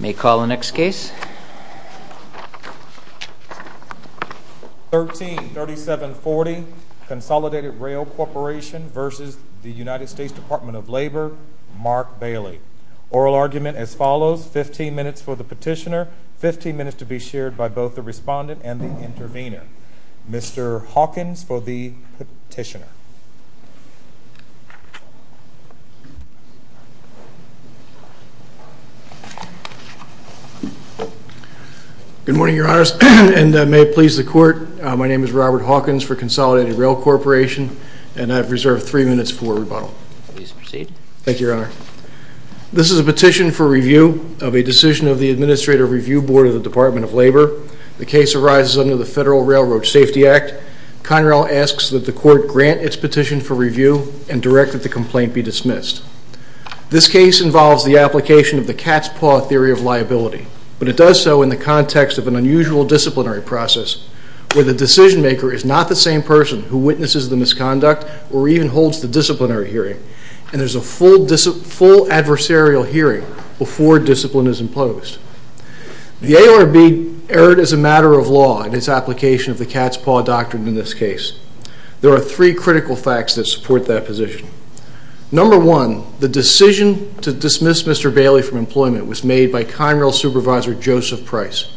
May I call the next case? 13-3740 Consolidated Rail Corporation v. United States Department of Labor, Mark Bailey Oral argument as follows, 15 minutes for the petitioner, 15 minutes to be shared by both the respondent and the intervener. Mr. Hawkins for the petitioner. Good morning, your honors, and may it please the court, my name is Robert Hawkins for Consolidated Rail Corporation and I've reserved three minutes for rebuttal. Please proceed. Thank you, your honor. This is a petition for review of a decision of the Administrative Review Board of the Department of Labor. The case arises under the Federal Railroad Safety Act. Conrail asks that the court grant its petition for review and direct that the complaint be dismissed. This case involves the application of the cat's paw theory of liability, but it does so in the context of an unusual disciplinary process where the decision maker is not the same person who witnesses the misconduct or even holds the disciplinary hearing and there's a full adversarial hearing before discipline is imposed. The ARB erred as a matter of law in its application of the cat's paw doctrine in this case. There are three critical facts that support that position. Number one, the decision to dismiss Mr. Bailey from employment was made by Conrail supervisor Joseph Price.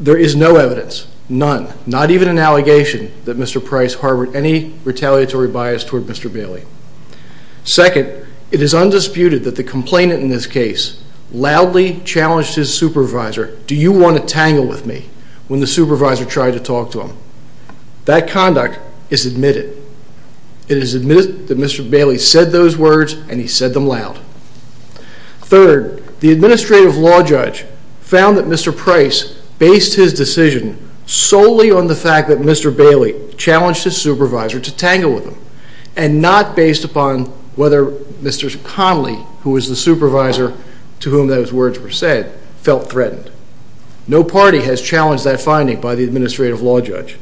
There is no evidence, none, not even an allegation that Mr. Price harbored any retaliatory bias toward Mr. Bailey. Second, it is undisputed that the complainant in this case loudly challenged his supervisor, do you want to tangle with me, when the supervisor tried to talk to him. That conduct is admitted. It is admitted that Mr. Bailey said those words and he said them loud. Third, the administrative law judge found that Mr. Price based his decision solely on the fact that Mr. Bailey challenged his supervisor to tangle with him and not based upon whether Mr. Conley, who was the supervisor to whom those words were said, felt threatened. No party has challenged that finding by the administrative law judge.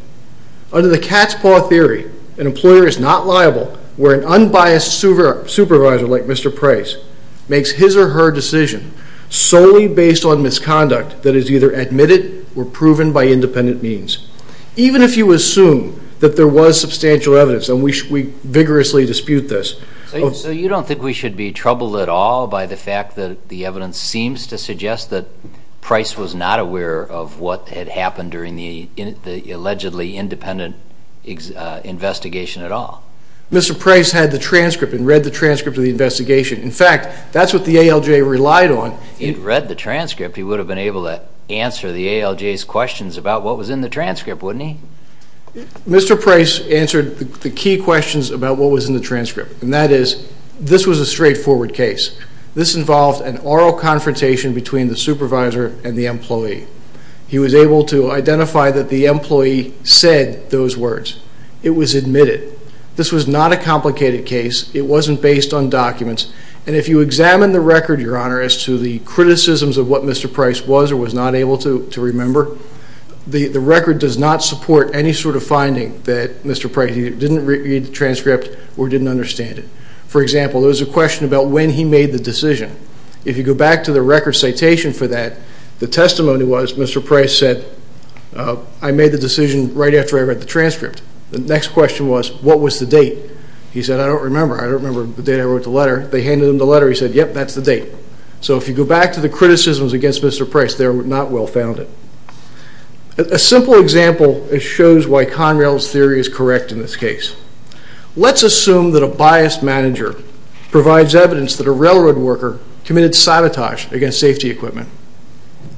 Under the cat's paw theory, an employer is not liable where an unbiased supervisor like Mr. Price makes his or her decision solely based on misconduct that is either admitted or proven by independent means. Even if you assume that there was substantial evidence and we vigorously dispute this. So you don't think we should be troubled at all by the fact that the evidence seems to suggest that the allegedly independent investigation at all? Mr. Price had the transcript and read the transcript of the investigation. In fact, that's what the ALJ relied on. If he'd read the transcript, he would have been able to answer the ALJ's questions about what was in the transcript, wouldn't he? Mr. Price answered the key questions about what was in the transcript. And that is, this was a straightforward case. This involved an oral confrontation between the supervisor and the employee. He was able to identify that the employee said those words. It was admitted. This was not a complicated case. It wasn't based on documents. And if you examine the record, Your Honor, as to the criticisms of what Mr. Price was or was not able to remember, the record does not support any sort of finding that Mr. Price didn't read the transcript or didn't understand it. For example, there was a question about when he made the decision. If you go back to the record citation for that, the testimony was Mr. Price said, I made the decision right after I read the transcript. The next question was, what was the date? He said, I don't remember. I don't remember the date I wrote the letter. They handed him the letter. He said, yep, that's the date. So if you go back to the criticisms against Mr. Price, they're not well founded. A simple example shows why Conrail's theory is correct in this case. Let's assume that a biased manager provides evidence that a railroad worker committed sabotage against safety equipment.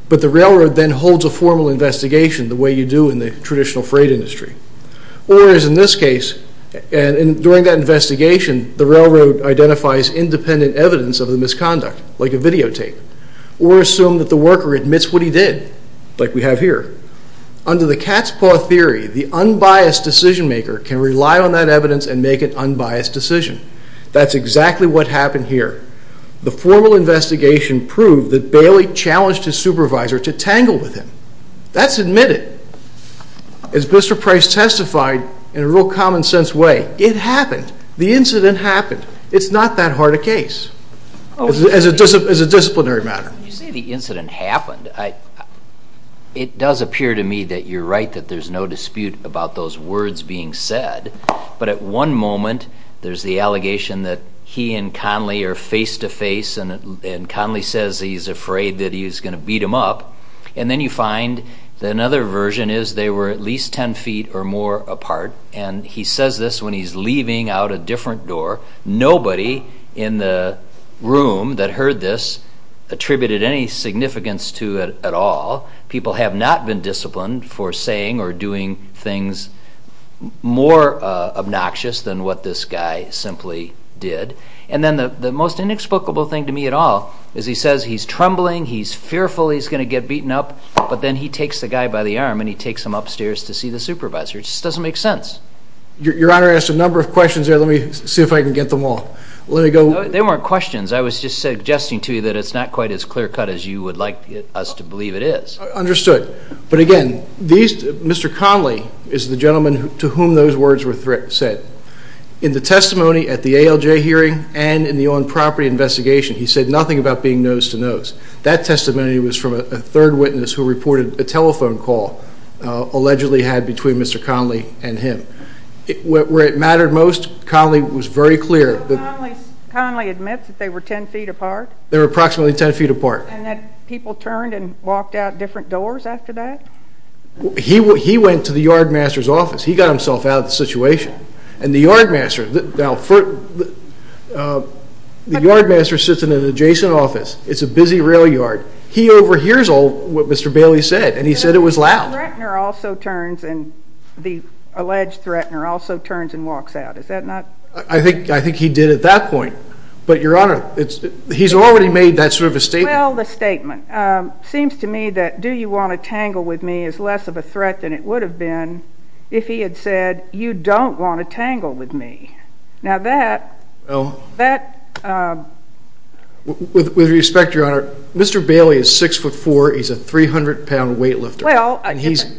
But the railroad then holds a formal investigation the way you do in the traditional freight industry. Or as in this case, during that investigation, the railroad identifies independent evidence of the misconduct, like a videotape. Or assume that the worker admits what he did, like we have here. Under the cat's paw theory, the unbiased decision maker can rely on that evidence and make an unbiased decision. That's exactly what happened here. The formal investigation proved that Bailey challenged his supervisor to tangle with him. That's admitted. As Mr. Price testified in a real common sense way, it happened. The incident happened. It's not that hard a case as a disciplinary matter. When you say the incident happened, it does appear to me that you're right, that there's no dispute about those words being said. But at one moment, there's the allegation that he and Conley are face to face. And Conley says he's afraid that he's going to beat him up. And then you find that another version is they were at least 10 feet or more apart. And he says this when he's leaving out a different door. Nobody in the room that heard this attributed any significance to it at all. People have not been disciplined for saying or doing things more obnoxious than what this guy simply did. And then the most inexplicable thing to me at all is he says he's trembling, he's fearful he's going to get beaten up. But then he takes the guy by the arm and he takes him upstairs to see the supervisor. It just doesn't make sense. Your Honor, I asked a number of questions there. Let me see if I can get them all. There weren't questions. I was just suggesting to you that it's not quite as clear cut as you would like us to believe it is. Understood. But again, Mr. Conley is the gentleman to whom those words were said. In the testimony at the ALJ hearing and in the on-property investigation, he said nothing about being nose to nose. That testimony was from a third witness who reported a telephone call allegedly had between Mr. Conley and him. Where it mattered most, Conley was very clear. Conley admits that they were ten feet apart? They were approximately ten feet apart. And that people turned and walked out different doors after that? He went to the yardmaster's office. He got himself out of the situation. And the yardmaster sits in an adjacent office. It's a busy rail yard. He overhears all what Mr. Bailey said. And he said it was loud. The threatener also turns and the alleged threatener also turns and walks out. Is that not? I think he did at that point. But, Your Honor, he's already made that sort of a statement. Well, the statement. It seems to me that do you want to tangle with me is less of a threat than it would have been if he had said you don't want to tangle with me. With respect, Your Honor, Mr. Bailey is six foot four. He's a 300-pound weightlifter. Well,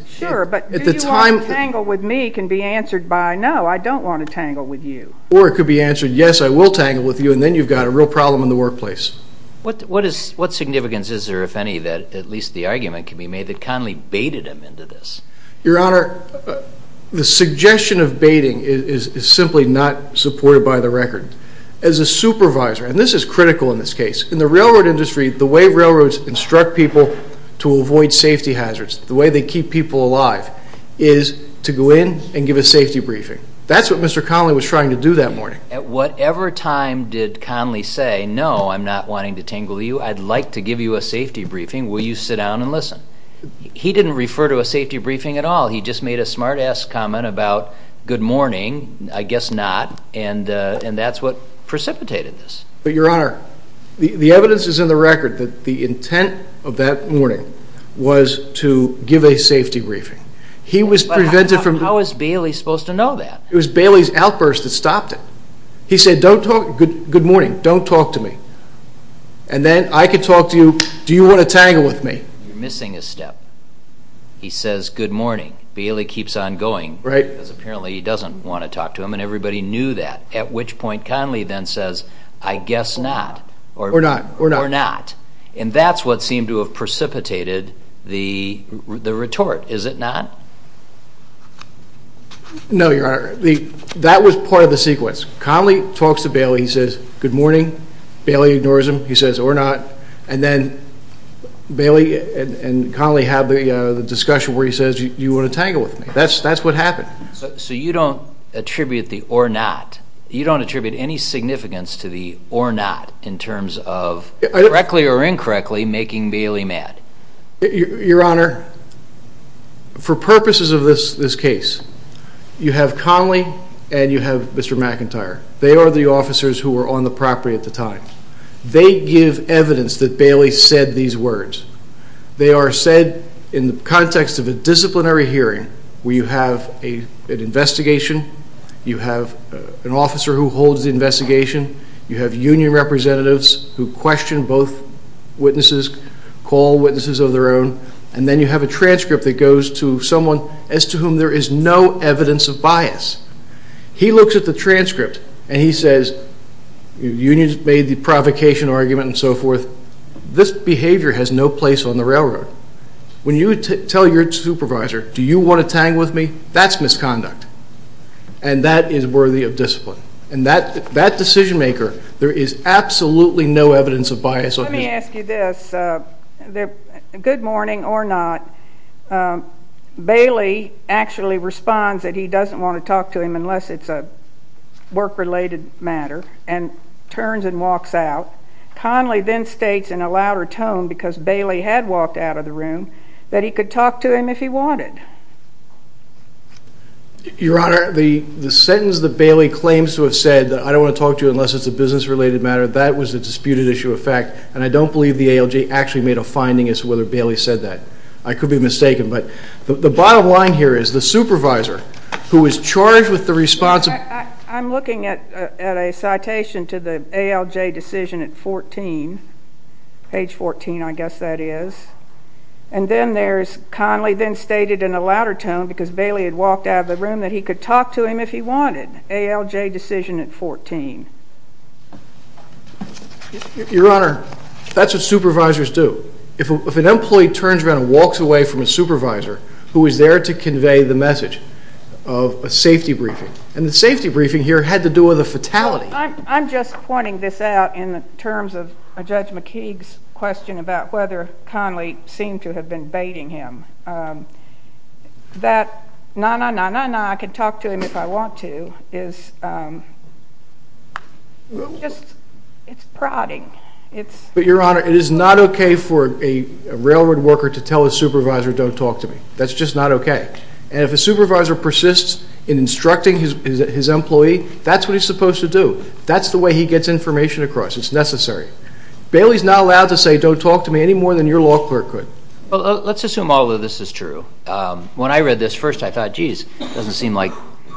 sure, but do you want to tangle with me can be answered by no, I don't want to tangle with you. Or it could be answered yes, I will tangle with you, and then you've got a real problem in the workplace. What significance is there, if any, that at least the argument can be made that Conley baited him into this? Your Honor, the suggestion of baiting is simply not supported by the record. As a supervisor, and this is critical in this case, in the railroad industry, the way railroads instruct people to avoid safety hazards, the way they keep people alive, is to go in and give a safety briefing. That's what Mr. Conley was trying to do that morning. At whatever time did Conley say, no, I'm not wanting to tangle with you. I'd like to give you a safety briefing. Will you sit down and listen? He didn't refer to a safety briefing at all. He just made a smart-ass comment about good morning, I guess not, and that's what precipitated this. But, Your Honor, the evidence is in the record that the intent of that morning was to give a safety briefing. How is Bailey supposed to know that? It was Bailey's outburst that stopped it. He said, good morning, don't talk to me. And then I could talk to you, do you want to tangle with me? You're missing a step. He says, good morning. Bailey keeps on going because apparently he doesn't want to talk to him, and everybody knew that, at which point Conley then says, I guess not. Or not. Or not. And that's what seemed to have precipitated the retort, is it not? No, Your Honor. That was part of the sequence. Conley talks to Bailey. He says, good morning. Bailey ignores him. He says, or not. And then Bailey and Conley have the discussion where he says, do you want to tangle with me? That's what happened. So you don't attribute the or not, you don't attribute any significance to the or not in terms of, correctly or incorrectly, making Bailey mad? Your Honor, for purposes of this case, you have Conley and you have Mr. McIntyre. They are the officers who were on the property at the time. They give evidence that Bailey said these words. They are said in the context of a disciplinary hearing where you have an investigation, you have an officer who holds the investigation, you have union representatives who question both witnesses, call witnesses of their own, and then you have a transcript that goes to someone as to whom there is no evidence of bias. He looks at the transcript and he says, unions made the provocation argument and so forth. This behavior has no place on the railroad. When you tell your supervisor, do you want to tangle with me? That's misconduct. And that is worthy of discipline. And that decision maker, there is absolutely no evidence of bias. Let me ask you this. Good morning or not, Bailey actually responds that he doesn't want to talk to him unless it's a work-related matter and turns and walks out. Conley then states in a louder tone, because Bailey had walked out of the room, that he could talk to him if he wanted. Your Honor, the sentence that Bailey claims to have said, I don't want to talk to you unless it's a business-related matter, that was a disputed issue of fact, and I don't believe the ALJ actually made a finding as to whether Bailey said that. I could be mistaken, but the bottom line here is the supervisor, who was charged with the response of I'm looking at a citation to the ALJ decision at 14, page 14 I guess that is, and then there's Conley then stated in a louder tone, because Bailey had walked out of the room, that he could talk to him if he wanted, ALJ decision at 14. Your Honor, that's what supervisors do. If an employee turns around and walks away from a supervisor, who is there to convey the message of a safety briefing, and the safety briefing here had to do with a fatality. I'm just pointing this out in terms of Judge McKeague's question about whether Conley seemed to have been baiting him. That, nah, nah, nah, nah, nah, I can talk to him if I want to, is just, it's prodding. But Your Honor, it is not okay for a railroad worker to tell a supervisor don't talk to me. That's just not okay. And if a supervisor persists in instructing his employee, that's what he's supposed to do. That's the way he gets information across. It's necessary. Bailey's not allowed to say don't talk to me any more than your law clerk could. Well, let's assume all of this is true. When I read this first, I thought, geez, it doesn't seem like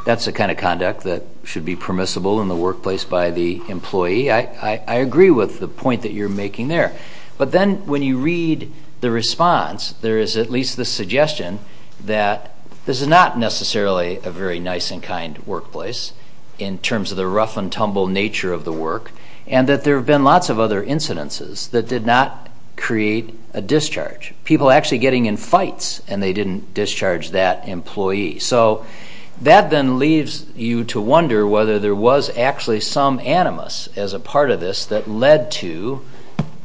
that's the kind of conduct that should be permissible in the workplace by the employee. I agree with the point that you're making there. But then when you read the response, there is at least the suggestion that this is not necessarily a very nice and kind workplace in terms of the rough and tumble nature of the work, and that there have been lots of other incidences that did not create a discharge, people actually getting in fights and they didn't discharge that employee. So that then leaves you to wonder whether there was actually some animus as a part of this that led to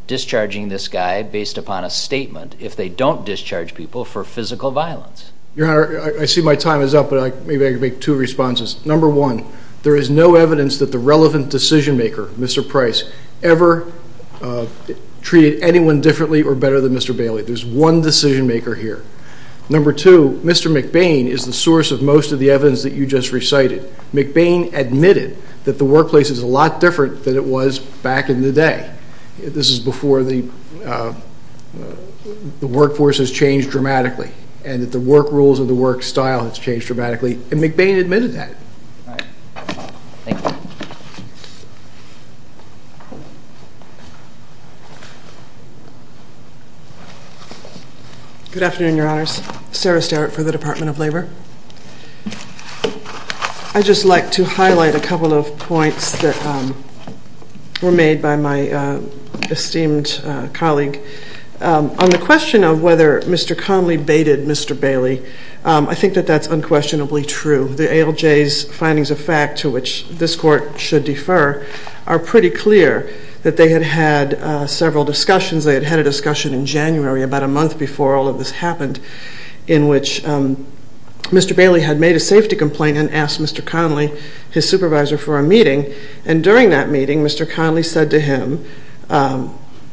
discharging this guy based upon a statement if they don't discharge people for physical violence. Your Honor, I see my time is up, but maybe I can make two responses. Number one, there is no evidence that the relevant decision-maker, Mr. Price, ever treated anyone differently or better than Mr. Bailey. There's one decision-maker here. Number two, Mr. McBain is the source of most of the evidence that you just recited. McBain admitted that the workplace is a lot different than it was back in the day. This is before the workforce has changed dramatically and that the work rules and the work style has changed dramatically, and McBain admitted that. Good afternoon, Your Honors. Sarah Starrett for the Department of Labor. I'd just like to highlight a couple of points that were made by my esteemed colleague. On the question of whether Mr. Conley baited Mr. Bailey, I think that that's unquestionably true. The ALJ's findings of fact, to which this Court should defer, are pretty clear that they had had several discussions. They had had a discussion in January, about a month before all of this happened, in which Mr. Bailey had made a safety complaint and asked Mr. Conley, his supervisor, for a meeting, and during that meeting Mr. Conley said to him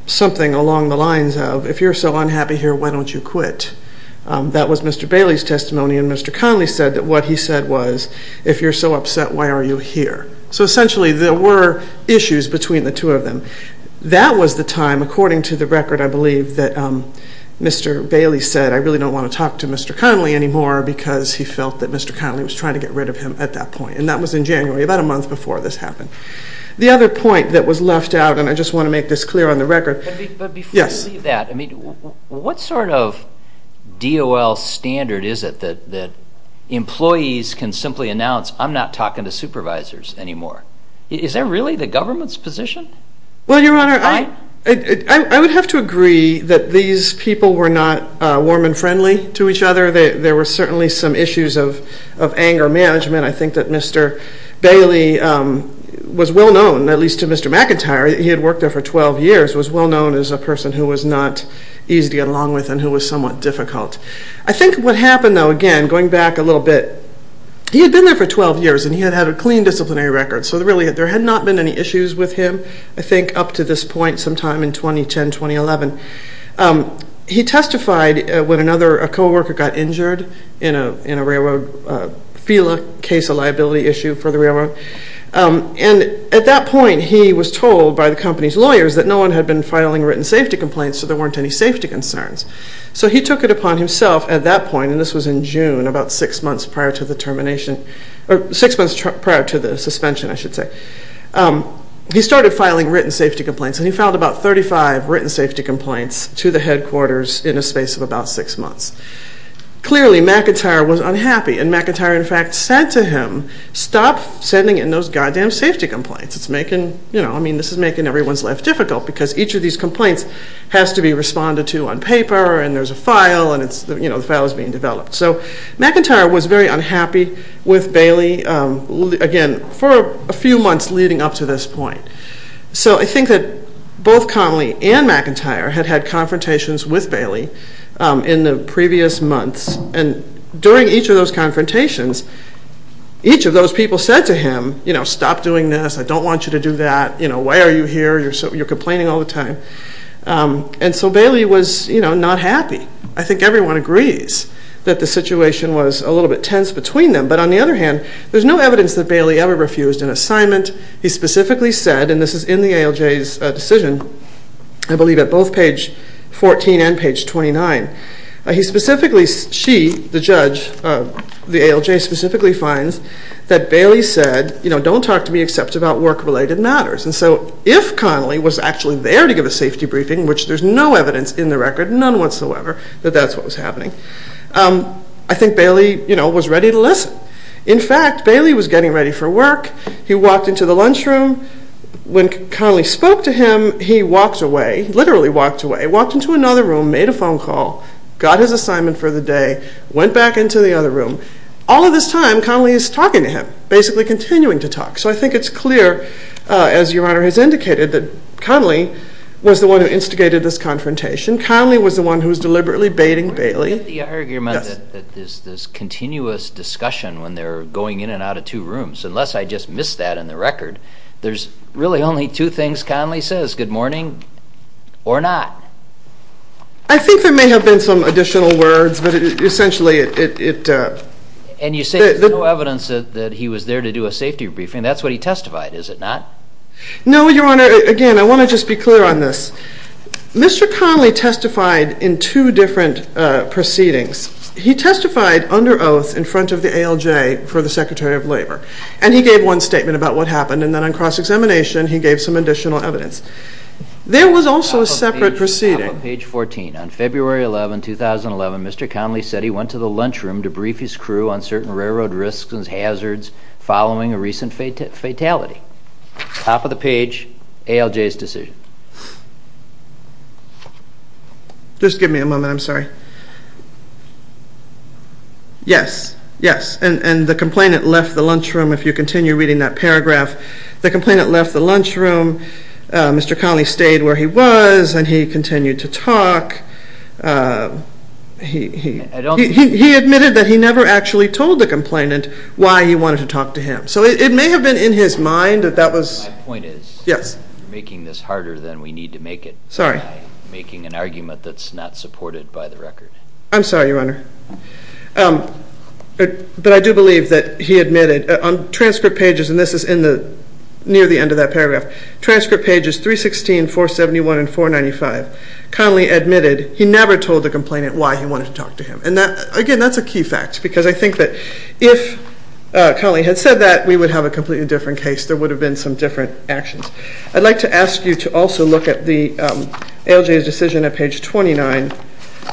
something along the lines of, if you're so unhappy here, why don't you quit? That was Mr. Bailey's testimony, and Mr. Conley said that what he said was, if you're so upset, why are you here? So essentially there were issues between the two of them. That was the time, according to the record, I believe, that Mr. Bailey said I really don't want to talk to Mr. Conley anymore because he felt that Mr. Conley was trying to get rid of him at that point, and that was in January, about a month before this happened. The other point that was left out, and I just want to make this clear on the record. But before we leave that, what sort of DOL standard is it that employees can simply announce I'm not talking to supervisors anymore? Is that really the government's position? Well, Your Honor, I would have to agree that these people were not warm and friendly to each other. There were certainly some issues of anger management. I think that Mr. Bailey was well known, at least to Mr. McIntyre, he had worked there for 12 years, was well known as a person who was not easy to get along with and who was somewhat difficult. I think what happened, though, again, going back a little bit, he had been there for 12 years and he had had a clean disciplinary record, so really there had not been any issues with him, I think, up to this point sometime in 2010, 2011. He testified when another co-worker got injured in a railroad FELA case, a liability issue for the railroad. And at that point he was told by the company's lawyers that no one had been filing written safety complaints, so there weren't any safety concerns. So he took it upon himself at that point, and this was in June, about six months prior to the suspension, he started filing written safety complaints and he filed about 35 written safety complaints to the headquarters in a space of about six months. Clearly McIntyre was unhappy and McIntyre, in fact, said to him, stop sending in those goddamn safety complaints. I mean, this is making everyone's life difficult because each of these complaints has to be responded to on paper and there's a file and the file is being developed. So McIntyre was very unhappy with Bailey, again, for a few months leading up to this point. So I think that both Connolly and McIntyre had had confrontations with Bailey in the previous months and during each of those confrontations, each of those people said to him, stop doing this, I don't want you to do that, why are you here, you're complaining all the time. And so Bailey was not happy. I think everyone agrees that the situation was a little bit tense between them, but on the other hand, there's no evidence that Bailey ever refused an assignment. He specifically said, and this is in the ALJ's decision, I believe at both page 14 and page 29, he specifically, she, the judge, the ALJ specifically finds that Bailey said, you know, don't talk to me except about work-related matters. And so if Connolly was actually there to give a safety briefing, which there's no evidence in the record, none whatsoever, that that's what was happening, I think Bailey, you know, was ready to listen. In fact, Bailey was getting ready for work. He walked into the lunchroom. When Connolly spoke to him, he walked away, literally walked away, walked into another room, made a phone call, got his assignment for the day, went back into the other room. All of this time, Connolly is talking to him, basically continuing to talk. So I think it's clear, as Your Honor has indicated, that Connolly was the one who instigated this confrontation. Connolly was the one who was deliberately baiting Bailey. The argument that there's this continuous discussion when they're going in and out of two rooms, unless I just missed that in the record, there's really only two things Connolly says, good morning or not. I think there may have been some additional words, but essentially it... And you say there's no evidence that he was there to do a safety briefing. That's what he testified, is it not? No, Your Honor. Again, I want to just be clear on this. Mr. Connolly testified in two different proceedings. And he gave one statement about what happened, and then on cross-examination he gave some additional evidence. There was also a separate proceeding. Top of page 14. On February 11, 2011, Mr. Connolly said he went to the lunchroom to brief his crew on certain railroad risks and hazards following a recent fatality. Top of the page, ALJ's decision. Just give me a moment, I'm sorry. Yes, yes, and the complainant left the lunchroom, if you continue reading that paragraph. The complainant left the lunchroom. Mr. Connolly stayed where he was, and he continued to talk. He admitted that he never actually told the complainant why he wanted to talk to him. So it may have been in his mind that that was... My point is, you're making this harder than we need to make it. Sorry. Making an argument that's not supported by the record. I'm sorry, Your Honor. But I do believe that he admitted on transcript pages, and this is near the end of that paragraph, transcript pages 316, 471, and 495, Connolly admitted he never told the complainant why he wanted to talk to him. And, again, that's a key fact because I think that if Connolly had said that, we would have a completely different case. There would have been some different actions. I'd like to ask you to also look at the ALJ's decision at page 29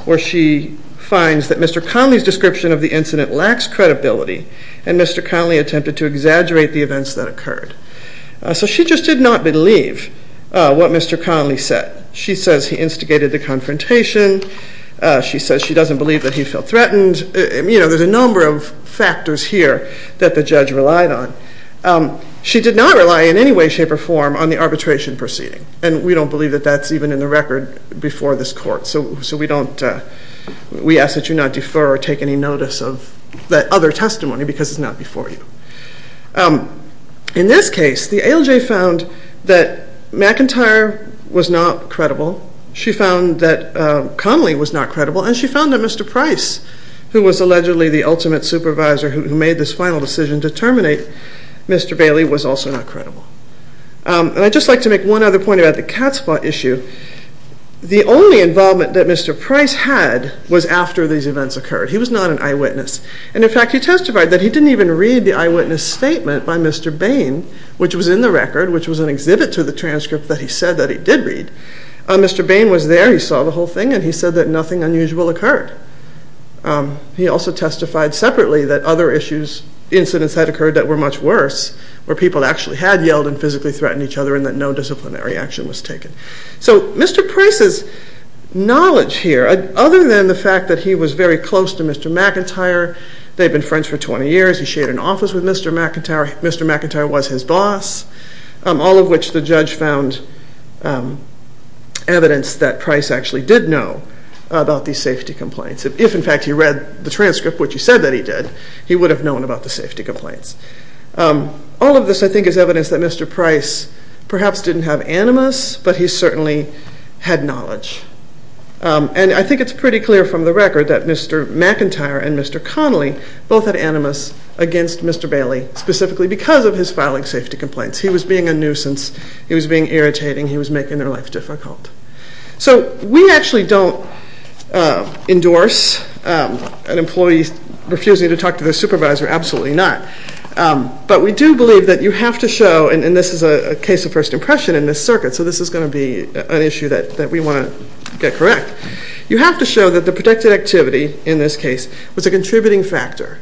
where she finds that Mr. Connolly's description of the incident lacks credibility, and Mr. Connolly attempted to exaggerate the events that occurred. So she just did not believe what Mr. Connolly said. She says he instigated the confrontation. She says she doesn't believe that he felt threatened. You know, there's a number of factors here that the judge relied on. She did not rely in any way, shape, or form on the arbitration proceeding, and we don't believe that that's even in the record before this court, so we ask that you not defer or take any notice of that other testimony because it's not before you. In this case, the ALJ found that McIntyre was not credible. She found that Connolly was not credible, and she found that Mr. Price, who was allegedly the ultimate supervisor who made this final decision to terminate Mr. Bailey, was also not credible. And I'd just like to make one other point about the cat's paw issue. The only involvement that Mr. Price had was after these events occurred. He was not an eyewitness. And, in fact, he testified that he didn't even read the eyewitness statement by Mr. Bain, which was in the record, which was an exhibit to the transcript that he said that he did read. Mr. Bain was there. He saw the whole thing, and he said that nothing unusual occurred. He also testified separately that other incidents had occurred that were much worse, where people actually had yelled and physically threatened each other and that no disciplinary action was taken. So Mr. Price's knowledge here, other than the fact that he was very close to Mr. McIntyre, they'd been friends for 20 years, he shared an office with Mr. McIntyre, Mr. McIntyre was his boss, all of which the judge found evidence that Price actually did know about these safety complaints. If, in fact, he read the transcript, which he said that he did, he would have known about the safety complaints. All of this, I think, is evidence that Mr. Price perhaps didn't have animus, but he certainly had knowledge. And I think it's pretty clear from the record that Mr. McIntyre and Mr. Connolly both had animus against Mr. Bailey, specifically because of his filing safety complaints. He was being a nuisance. He was being irritating. He was making their life difficult. So we actually don't endorse an employee refusing to talk to their supervisor, absolutely not. But we do believe that you have to show, and this is a case of first impression in this circuit, so this is going to be an issue that we want to get correct, you have to show that the protected activity in this case was a contributing factor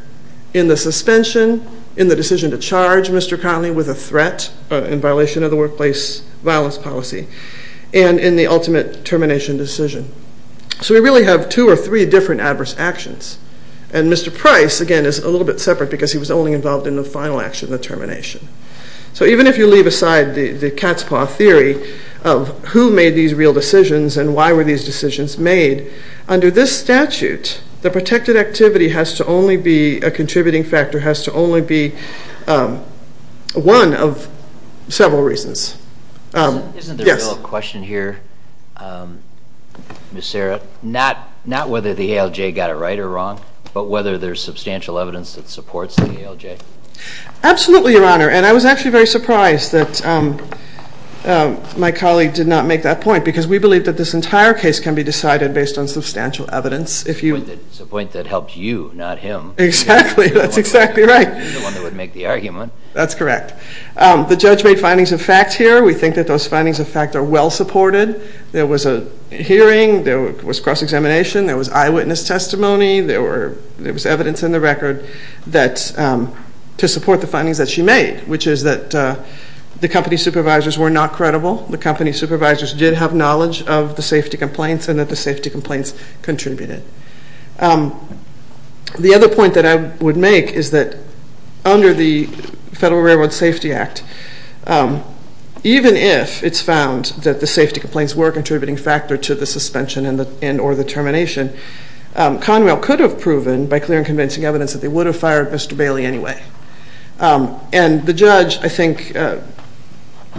in the suspension, in the decision to charge Mr. Connolly with a threat in violation of the workplace violence policy and in the ultimate termination decision. So we really have two or three different adverse actions. And Mr. Price, again, is a little bit separate because he was only involved in the final action, the termination. So even if you leave aside the cat's paw theory of who made these real decisions and why were these decisions made, under this statute, the protected activity has to only be a contributing factor, has to only be one of several reasons. Isn't there a real question here, Ms. Sarah, not whether the ALJ got it right or wrong, but whether there's substantial evidence that supports the ALJ? Absolutely, Your Honor. And I was actually very surprised that my colleague did not make that point because we believe that this entire case can be decided based on substantial evidence. It's a point that helped you, not him. Exactly. That's exactly right. You're the one that would make the argument. That's correct. The judge made findings of fact here. We think that those findings of fact are well supported. There was a hearing. There was cross-examination. There was eyewitness testimony. There was evidence in the record to support the findings that she made, which is that the company supervisors were not credible. The company supervisors did have knowledge of the safety complaints and that the safety complaints contributed. The other point that I would make is that under the Federal Railroad Safety Act, even if it's found that the safety complaints were a contributing factor to the suspension and or the termination, Conrail could have proven by clear and convincing evidence that they would have fired Mr. Bailey anyway. And the judge, I think,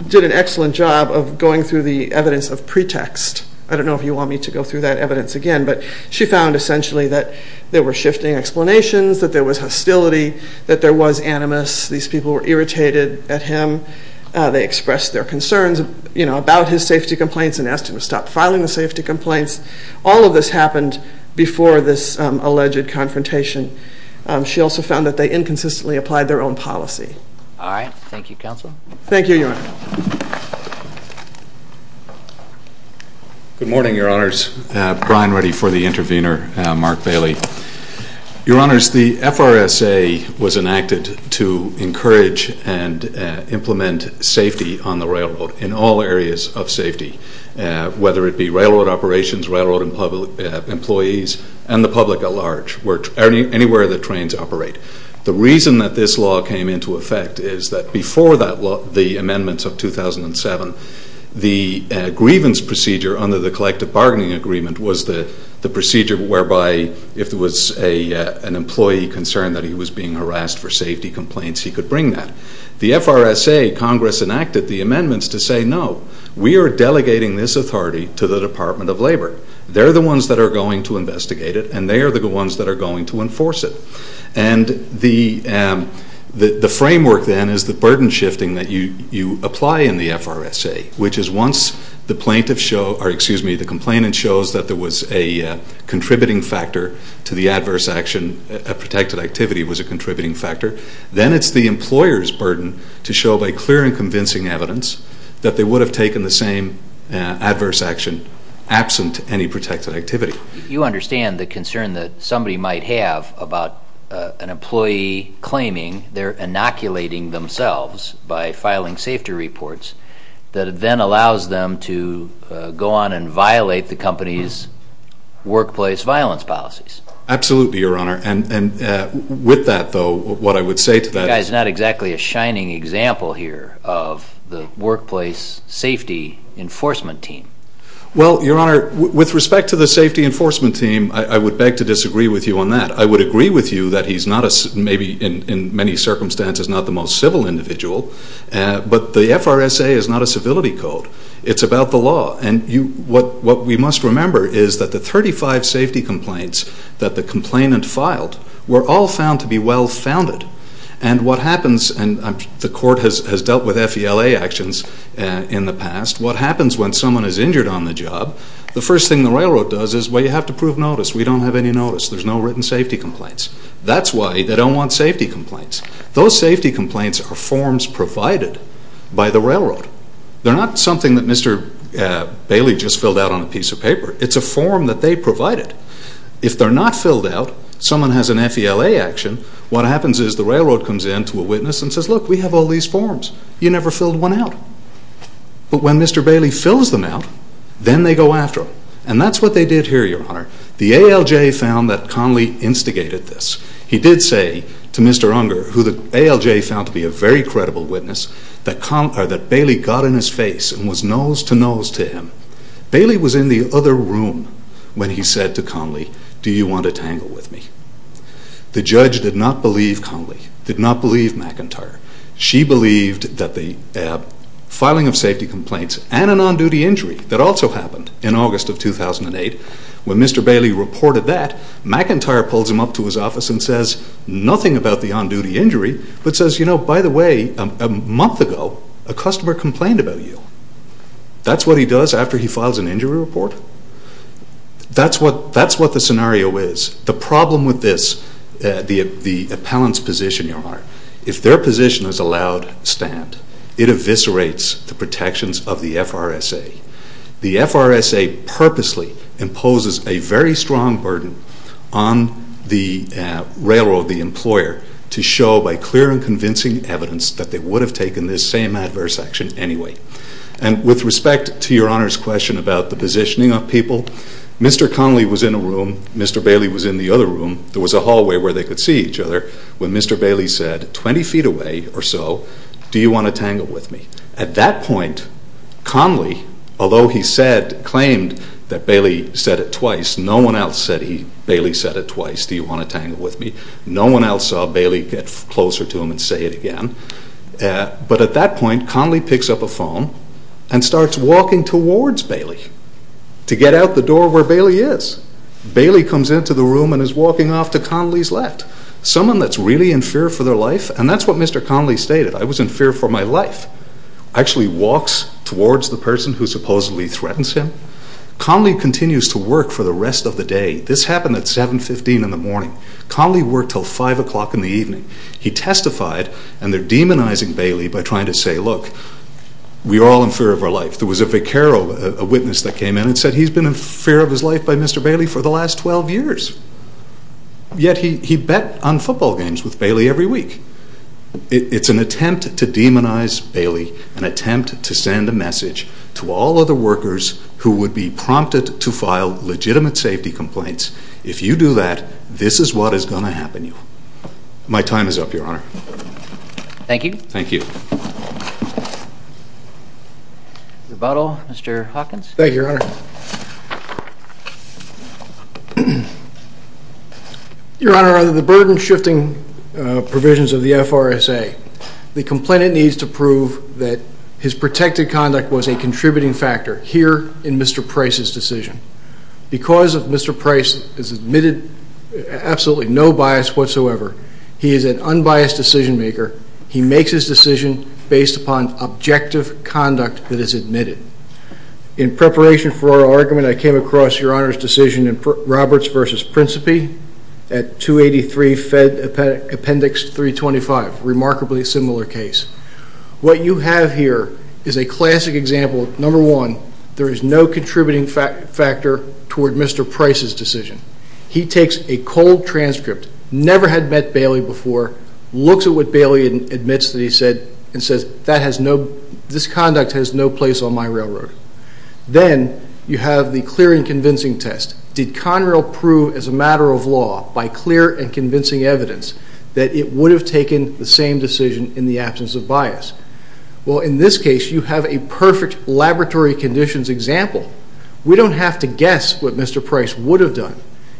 did an excellent job of going through the evidence of pretext. I don't know if you want me to go through that evidence again, but she found essentially that there were shifting explanations, that there was hostility, that there was animus, these people were irritated at him. They expressed their concerns about his safety complaints and asked him to stop filing the safety complaints. All of this happened before this alleged confrontation. She also found that they inconsistently applied their own policy. All right. Thank you, Counsel. Thank you, Your Honor. Good morning, Your Honors. Brian Ready for the intervener, Mark Bailey. Your Honors, the FRSA was enacted to encourage and implement safety on the railroad, in all areas of safety, whether it be railroad operations, railroad employees, and the public at large, anywhere that trains operate. The reason that this law came into effect is that before the amendments of 2007, the grievance procedure under the collective bargaining agreement was the procedure whereby if there was an employee concerned that he was being harassed for safety complaints, he could bring that. The FRSA, Congress enacted the amendments to say, no, we are delegating this authority to the Department of Labor. They're the ones that are going to investigate it, and they are the ones that are going to enforce it. And the framework then is the burden shifting that you apply in the FRSA, which is once the complainant shows that there was a contributing factor to the adverse action, a protected activity was a contributing factor, then it's the employer's burden to show by clear and convincing evidence that they would have taken the same adverse action absent any protected activity. You understand the concern that somebody might have about an employee claiming they're inoculating themselves by filing safety reports that then allows them to go on and violate the company's workplace violence policies. Absolutely, Your Honor, and with that, though, what I would say to that is You guys are not exactly a shining example here of the workplace safety enforcement team. Well, Your Honor, with respect to the safety enforcement team, I would beg to disagree with you on that. I would agree with you that he's not a, maybe in many circumstances, not the most civil individual, but the FRSA is not a civility code. It's about the law, and what we must remember is that the 35 safety complaints that the complainant filed were all found to be well-founded, and what happens, and the court has dealt with FELA actions in the past, what happens when someone is injured on the job, the first thing the railroad does is, well, you have to prove notice. We don't have any notice. There's no written safety complaints. That's why they don't want safety complaints. Those safety complaints are forms provided by the railroad. They're not something that Mr. Bailey just filled out on a piece of paper. It's a form that they provided. If they're not filled out, someone has an FELA action, what happens is the railroad comes in to a witness and says, Look, we have all these forms. You never filled one out. But when Mr. Bailey fills them out, then they go after him, and that's what they did here, Your Honor. The ALJ found that Conley instigated this. He did say to Mr. Unger, who the ALJ found to be a very credible witness, that Bailey got in his face and was nose-to-nose to him. Bailey was in the other room when he said to Conley, Do you want to tangle with me? The judge did not believe Conley, did not believe McIntyre. She believed that the filing of safety complaints and an on-duty injury that also happened in August of 2008, when Mr. Bailey reported that, McIntyre pulls him up to his office and says nothing about the on-duty injury, but says, You know, by the way, a month ago, a customer complained about you. That's what he does after he files an injury report? That's what the scenario is. The problem with this, the appellant's position, Your Honor, if their position is a loud stand, it eviscerates the protections of the FRSA. The FRSA purposely imposes a very strong burden on the railroad, the employer, to show by clear and convincing evidence that they would have taken this same adverse action anyway. And with respect to Your Honor's question about the positioning of people, Mr. Conley was in a room, Mr. Bailey was in the other room. There was a hallway where they could see each other when Mr. Bailey said, 20 feet away or so, Do you want to tangle with me? At that point, Conley, although he claimed that Bailey said it twice, no one else said Bailey said it twice, Do you want to tangle with me? No one else saw Bailey get closer to him and say it again. But at that point, Conley picks up a phone and starts walking towards Bailey to get out the door where Bailey is. Bailey comes into the room and is walking off to Conley's left. Someone that's really in fear for their life, and that's what Mr. Conley stated, I was in fear for my life, actually walks towards the person who supposedly threatens him. Conley continues to work for the rest of the day. This happened at 7.15 in the morning. Conley worked until 5 o'clock in the evening. He testified, and they're demonizing Bailey by trying to say, Look, we're all in fear of our life. There was a vicero, a witness that came in and said he's been in fear of his life by Mr. Bailey for the last 12 years. Yet he bet on football games with Bailey every week. It's an attempt to demonize Bailey, an attempt to send a message to all other workers who would be prompted to file legitimate safety complaints. If you do that, this is what is going to happen to you. My time is up, Your Honor. Thank you. Thank you. Rebuttal, Mr. Hawkins. Thank you, Your Honor. Your Honor, under the burden-shifting provisions of the FRSA, the complainant needs to prove that his protected conduct was a contributing factor here in Mr. Price's decision. Because if Mr. Price is admitted absolutely no bias whatsoever, he is an unbiased decision-maker. He makes his decision based upon objective conduct that is admitted. In preparation for our argument, I came across Your Honor's decision in Roberts v. Principe at 283 Fed Appendix 325, a remarkably similar case. What you have here is a classic example. Number one, there is no contributing factor toward Mr. Price's decision. He takes a cold transcript, never had met Bailey before, looks at what Bailey admits that he said, and says this conduct has no place on my railroad. Then you have the clear and convincing test. Did Conrail prove as a matter of law by clear and convincing evidence that it would have taken the same decision in the absence of bias? Well, in this case, you have a perfect laboratory conditions example. We don't have to guess what Mr. Price would have done.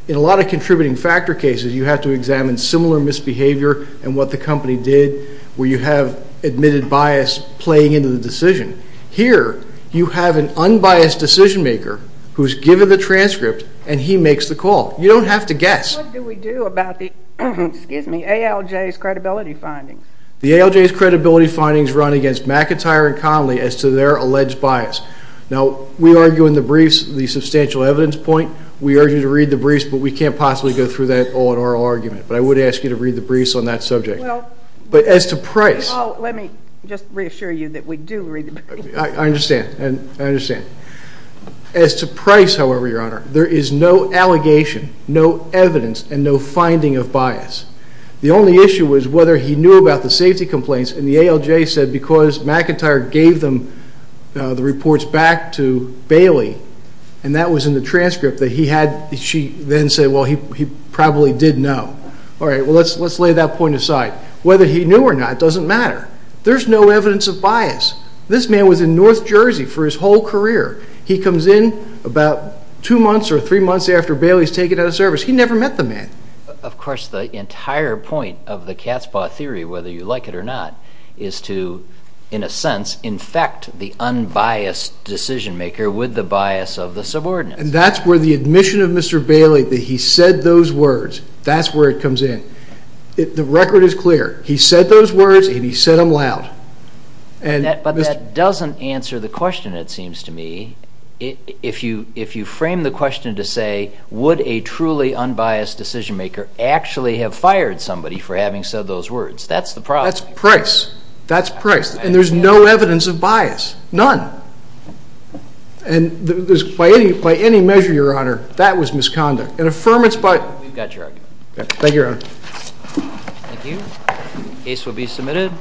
In a lot of contributing factor cases, you have to examine similar misbehavior and what the company did where you have admitted bias playing into the decision. Here, you have an unbiased decision maker who has given the transcript and he makes the call. You don't have to guess. What do we do about the ALJ's credibility findings? The ALJ's credibility findings run against McIntyre and Connelly as to their alleged bias. Now, we argue in the briefs the substantial evidence point. We urge you to read the briefs, but we can't possibly go through that all in our argument. But I would ask you to read the briefs on that subject. But as to Price. Let me just reassure you that we do read the briefs. I understand. I understand. As to Price, however, Your Honor, there is no allegation, no evidence, and no finding of bias. The only issue was whether he knew about the safety complaints and the ALJ said because McIntyre gave them the reports back to Bailey and that was in the transcript that he had, she then said, well, he probably did know. All right. Well, let's lay that point aside. Whether he knew or not doesn't matter. There's no evidence of bias. This man was in North Jersey for his whole career. He comes in about two months or three months after Bailey's taken out of service. He never met the man. Of course, the entire point of the cat's paw theory, whether you like it or not, is to, in a sense, infect the unbiased decision maker with the bias of the subordinate. And that's where the admission of Mr. Bailey that he said those words, that's where it comes in. The record is clear. He said those words and he said them loud. But that doesn't answer the question, it seems to me. If you frame the question to say would a truly unbiased decision maker actually have fired somebody for having said those words, that's the problem. That's price. That's price. And there's no evidence of bias. None. And by any measure, Your Honor, that was misconduct. An affirmance by We've got your argument. Thank you, Your Honor. Thank you. Case will be submitted.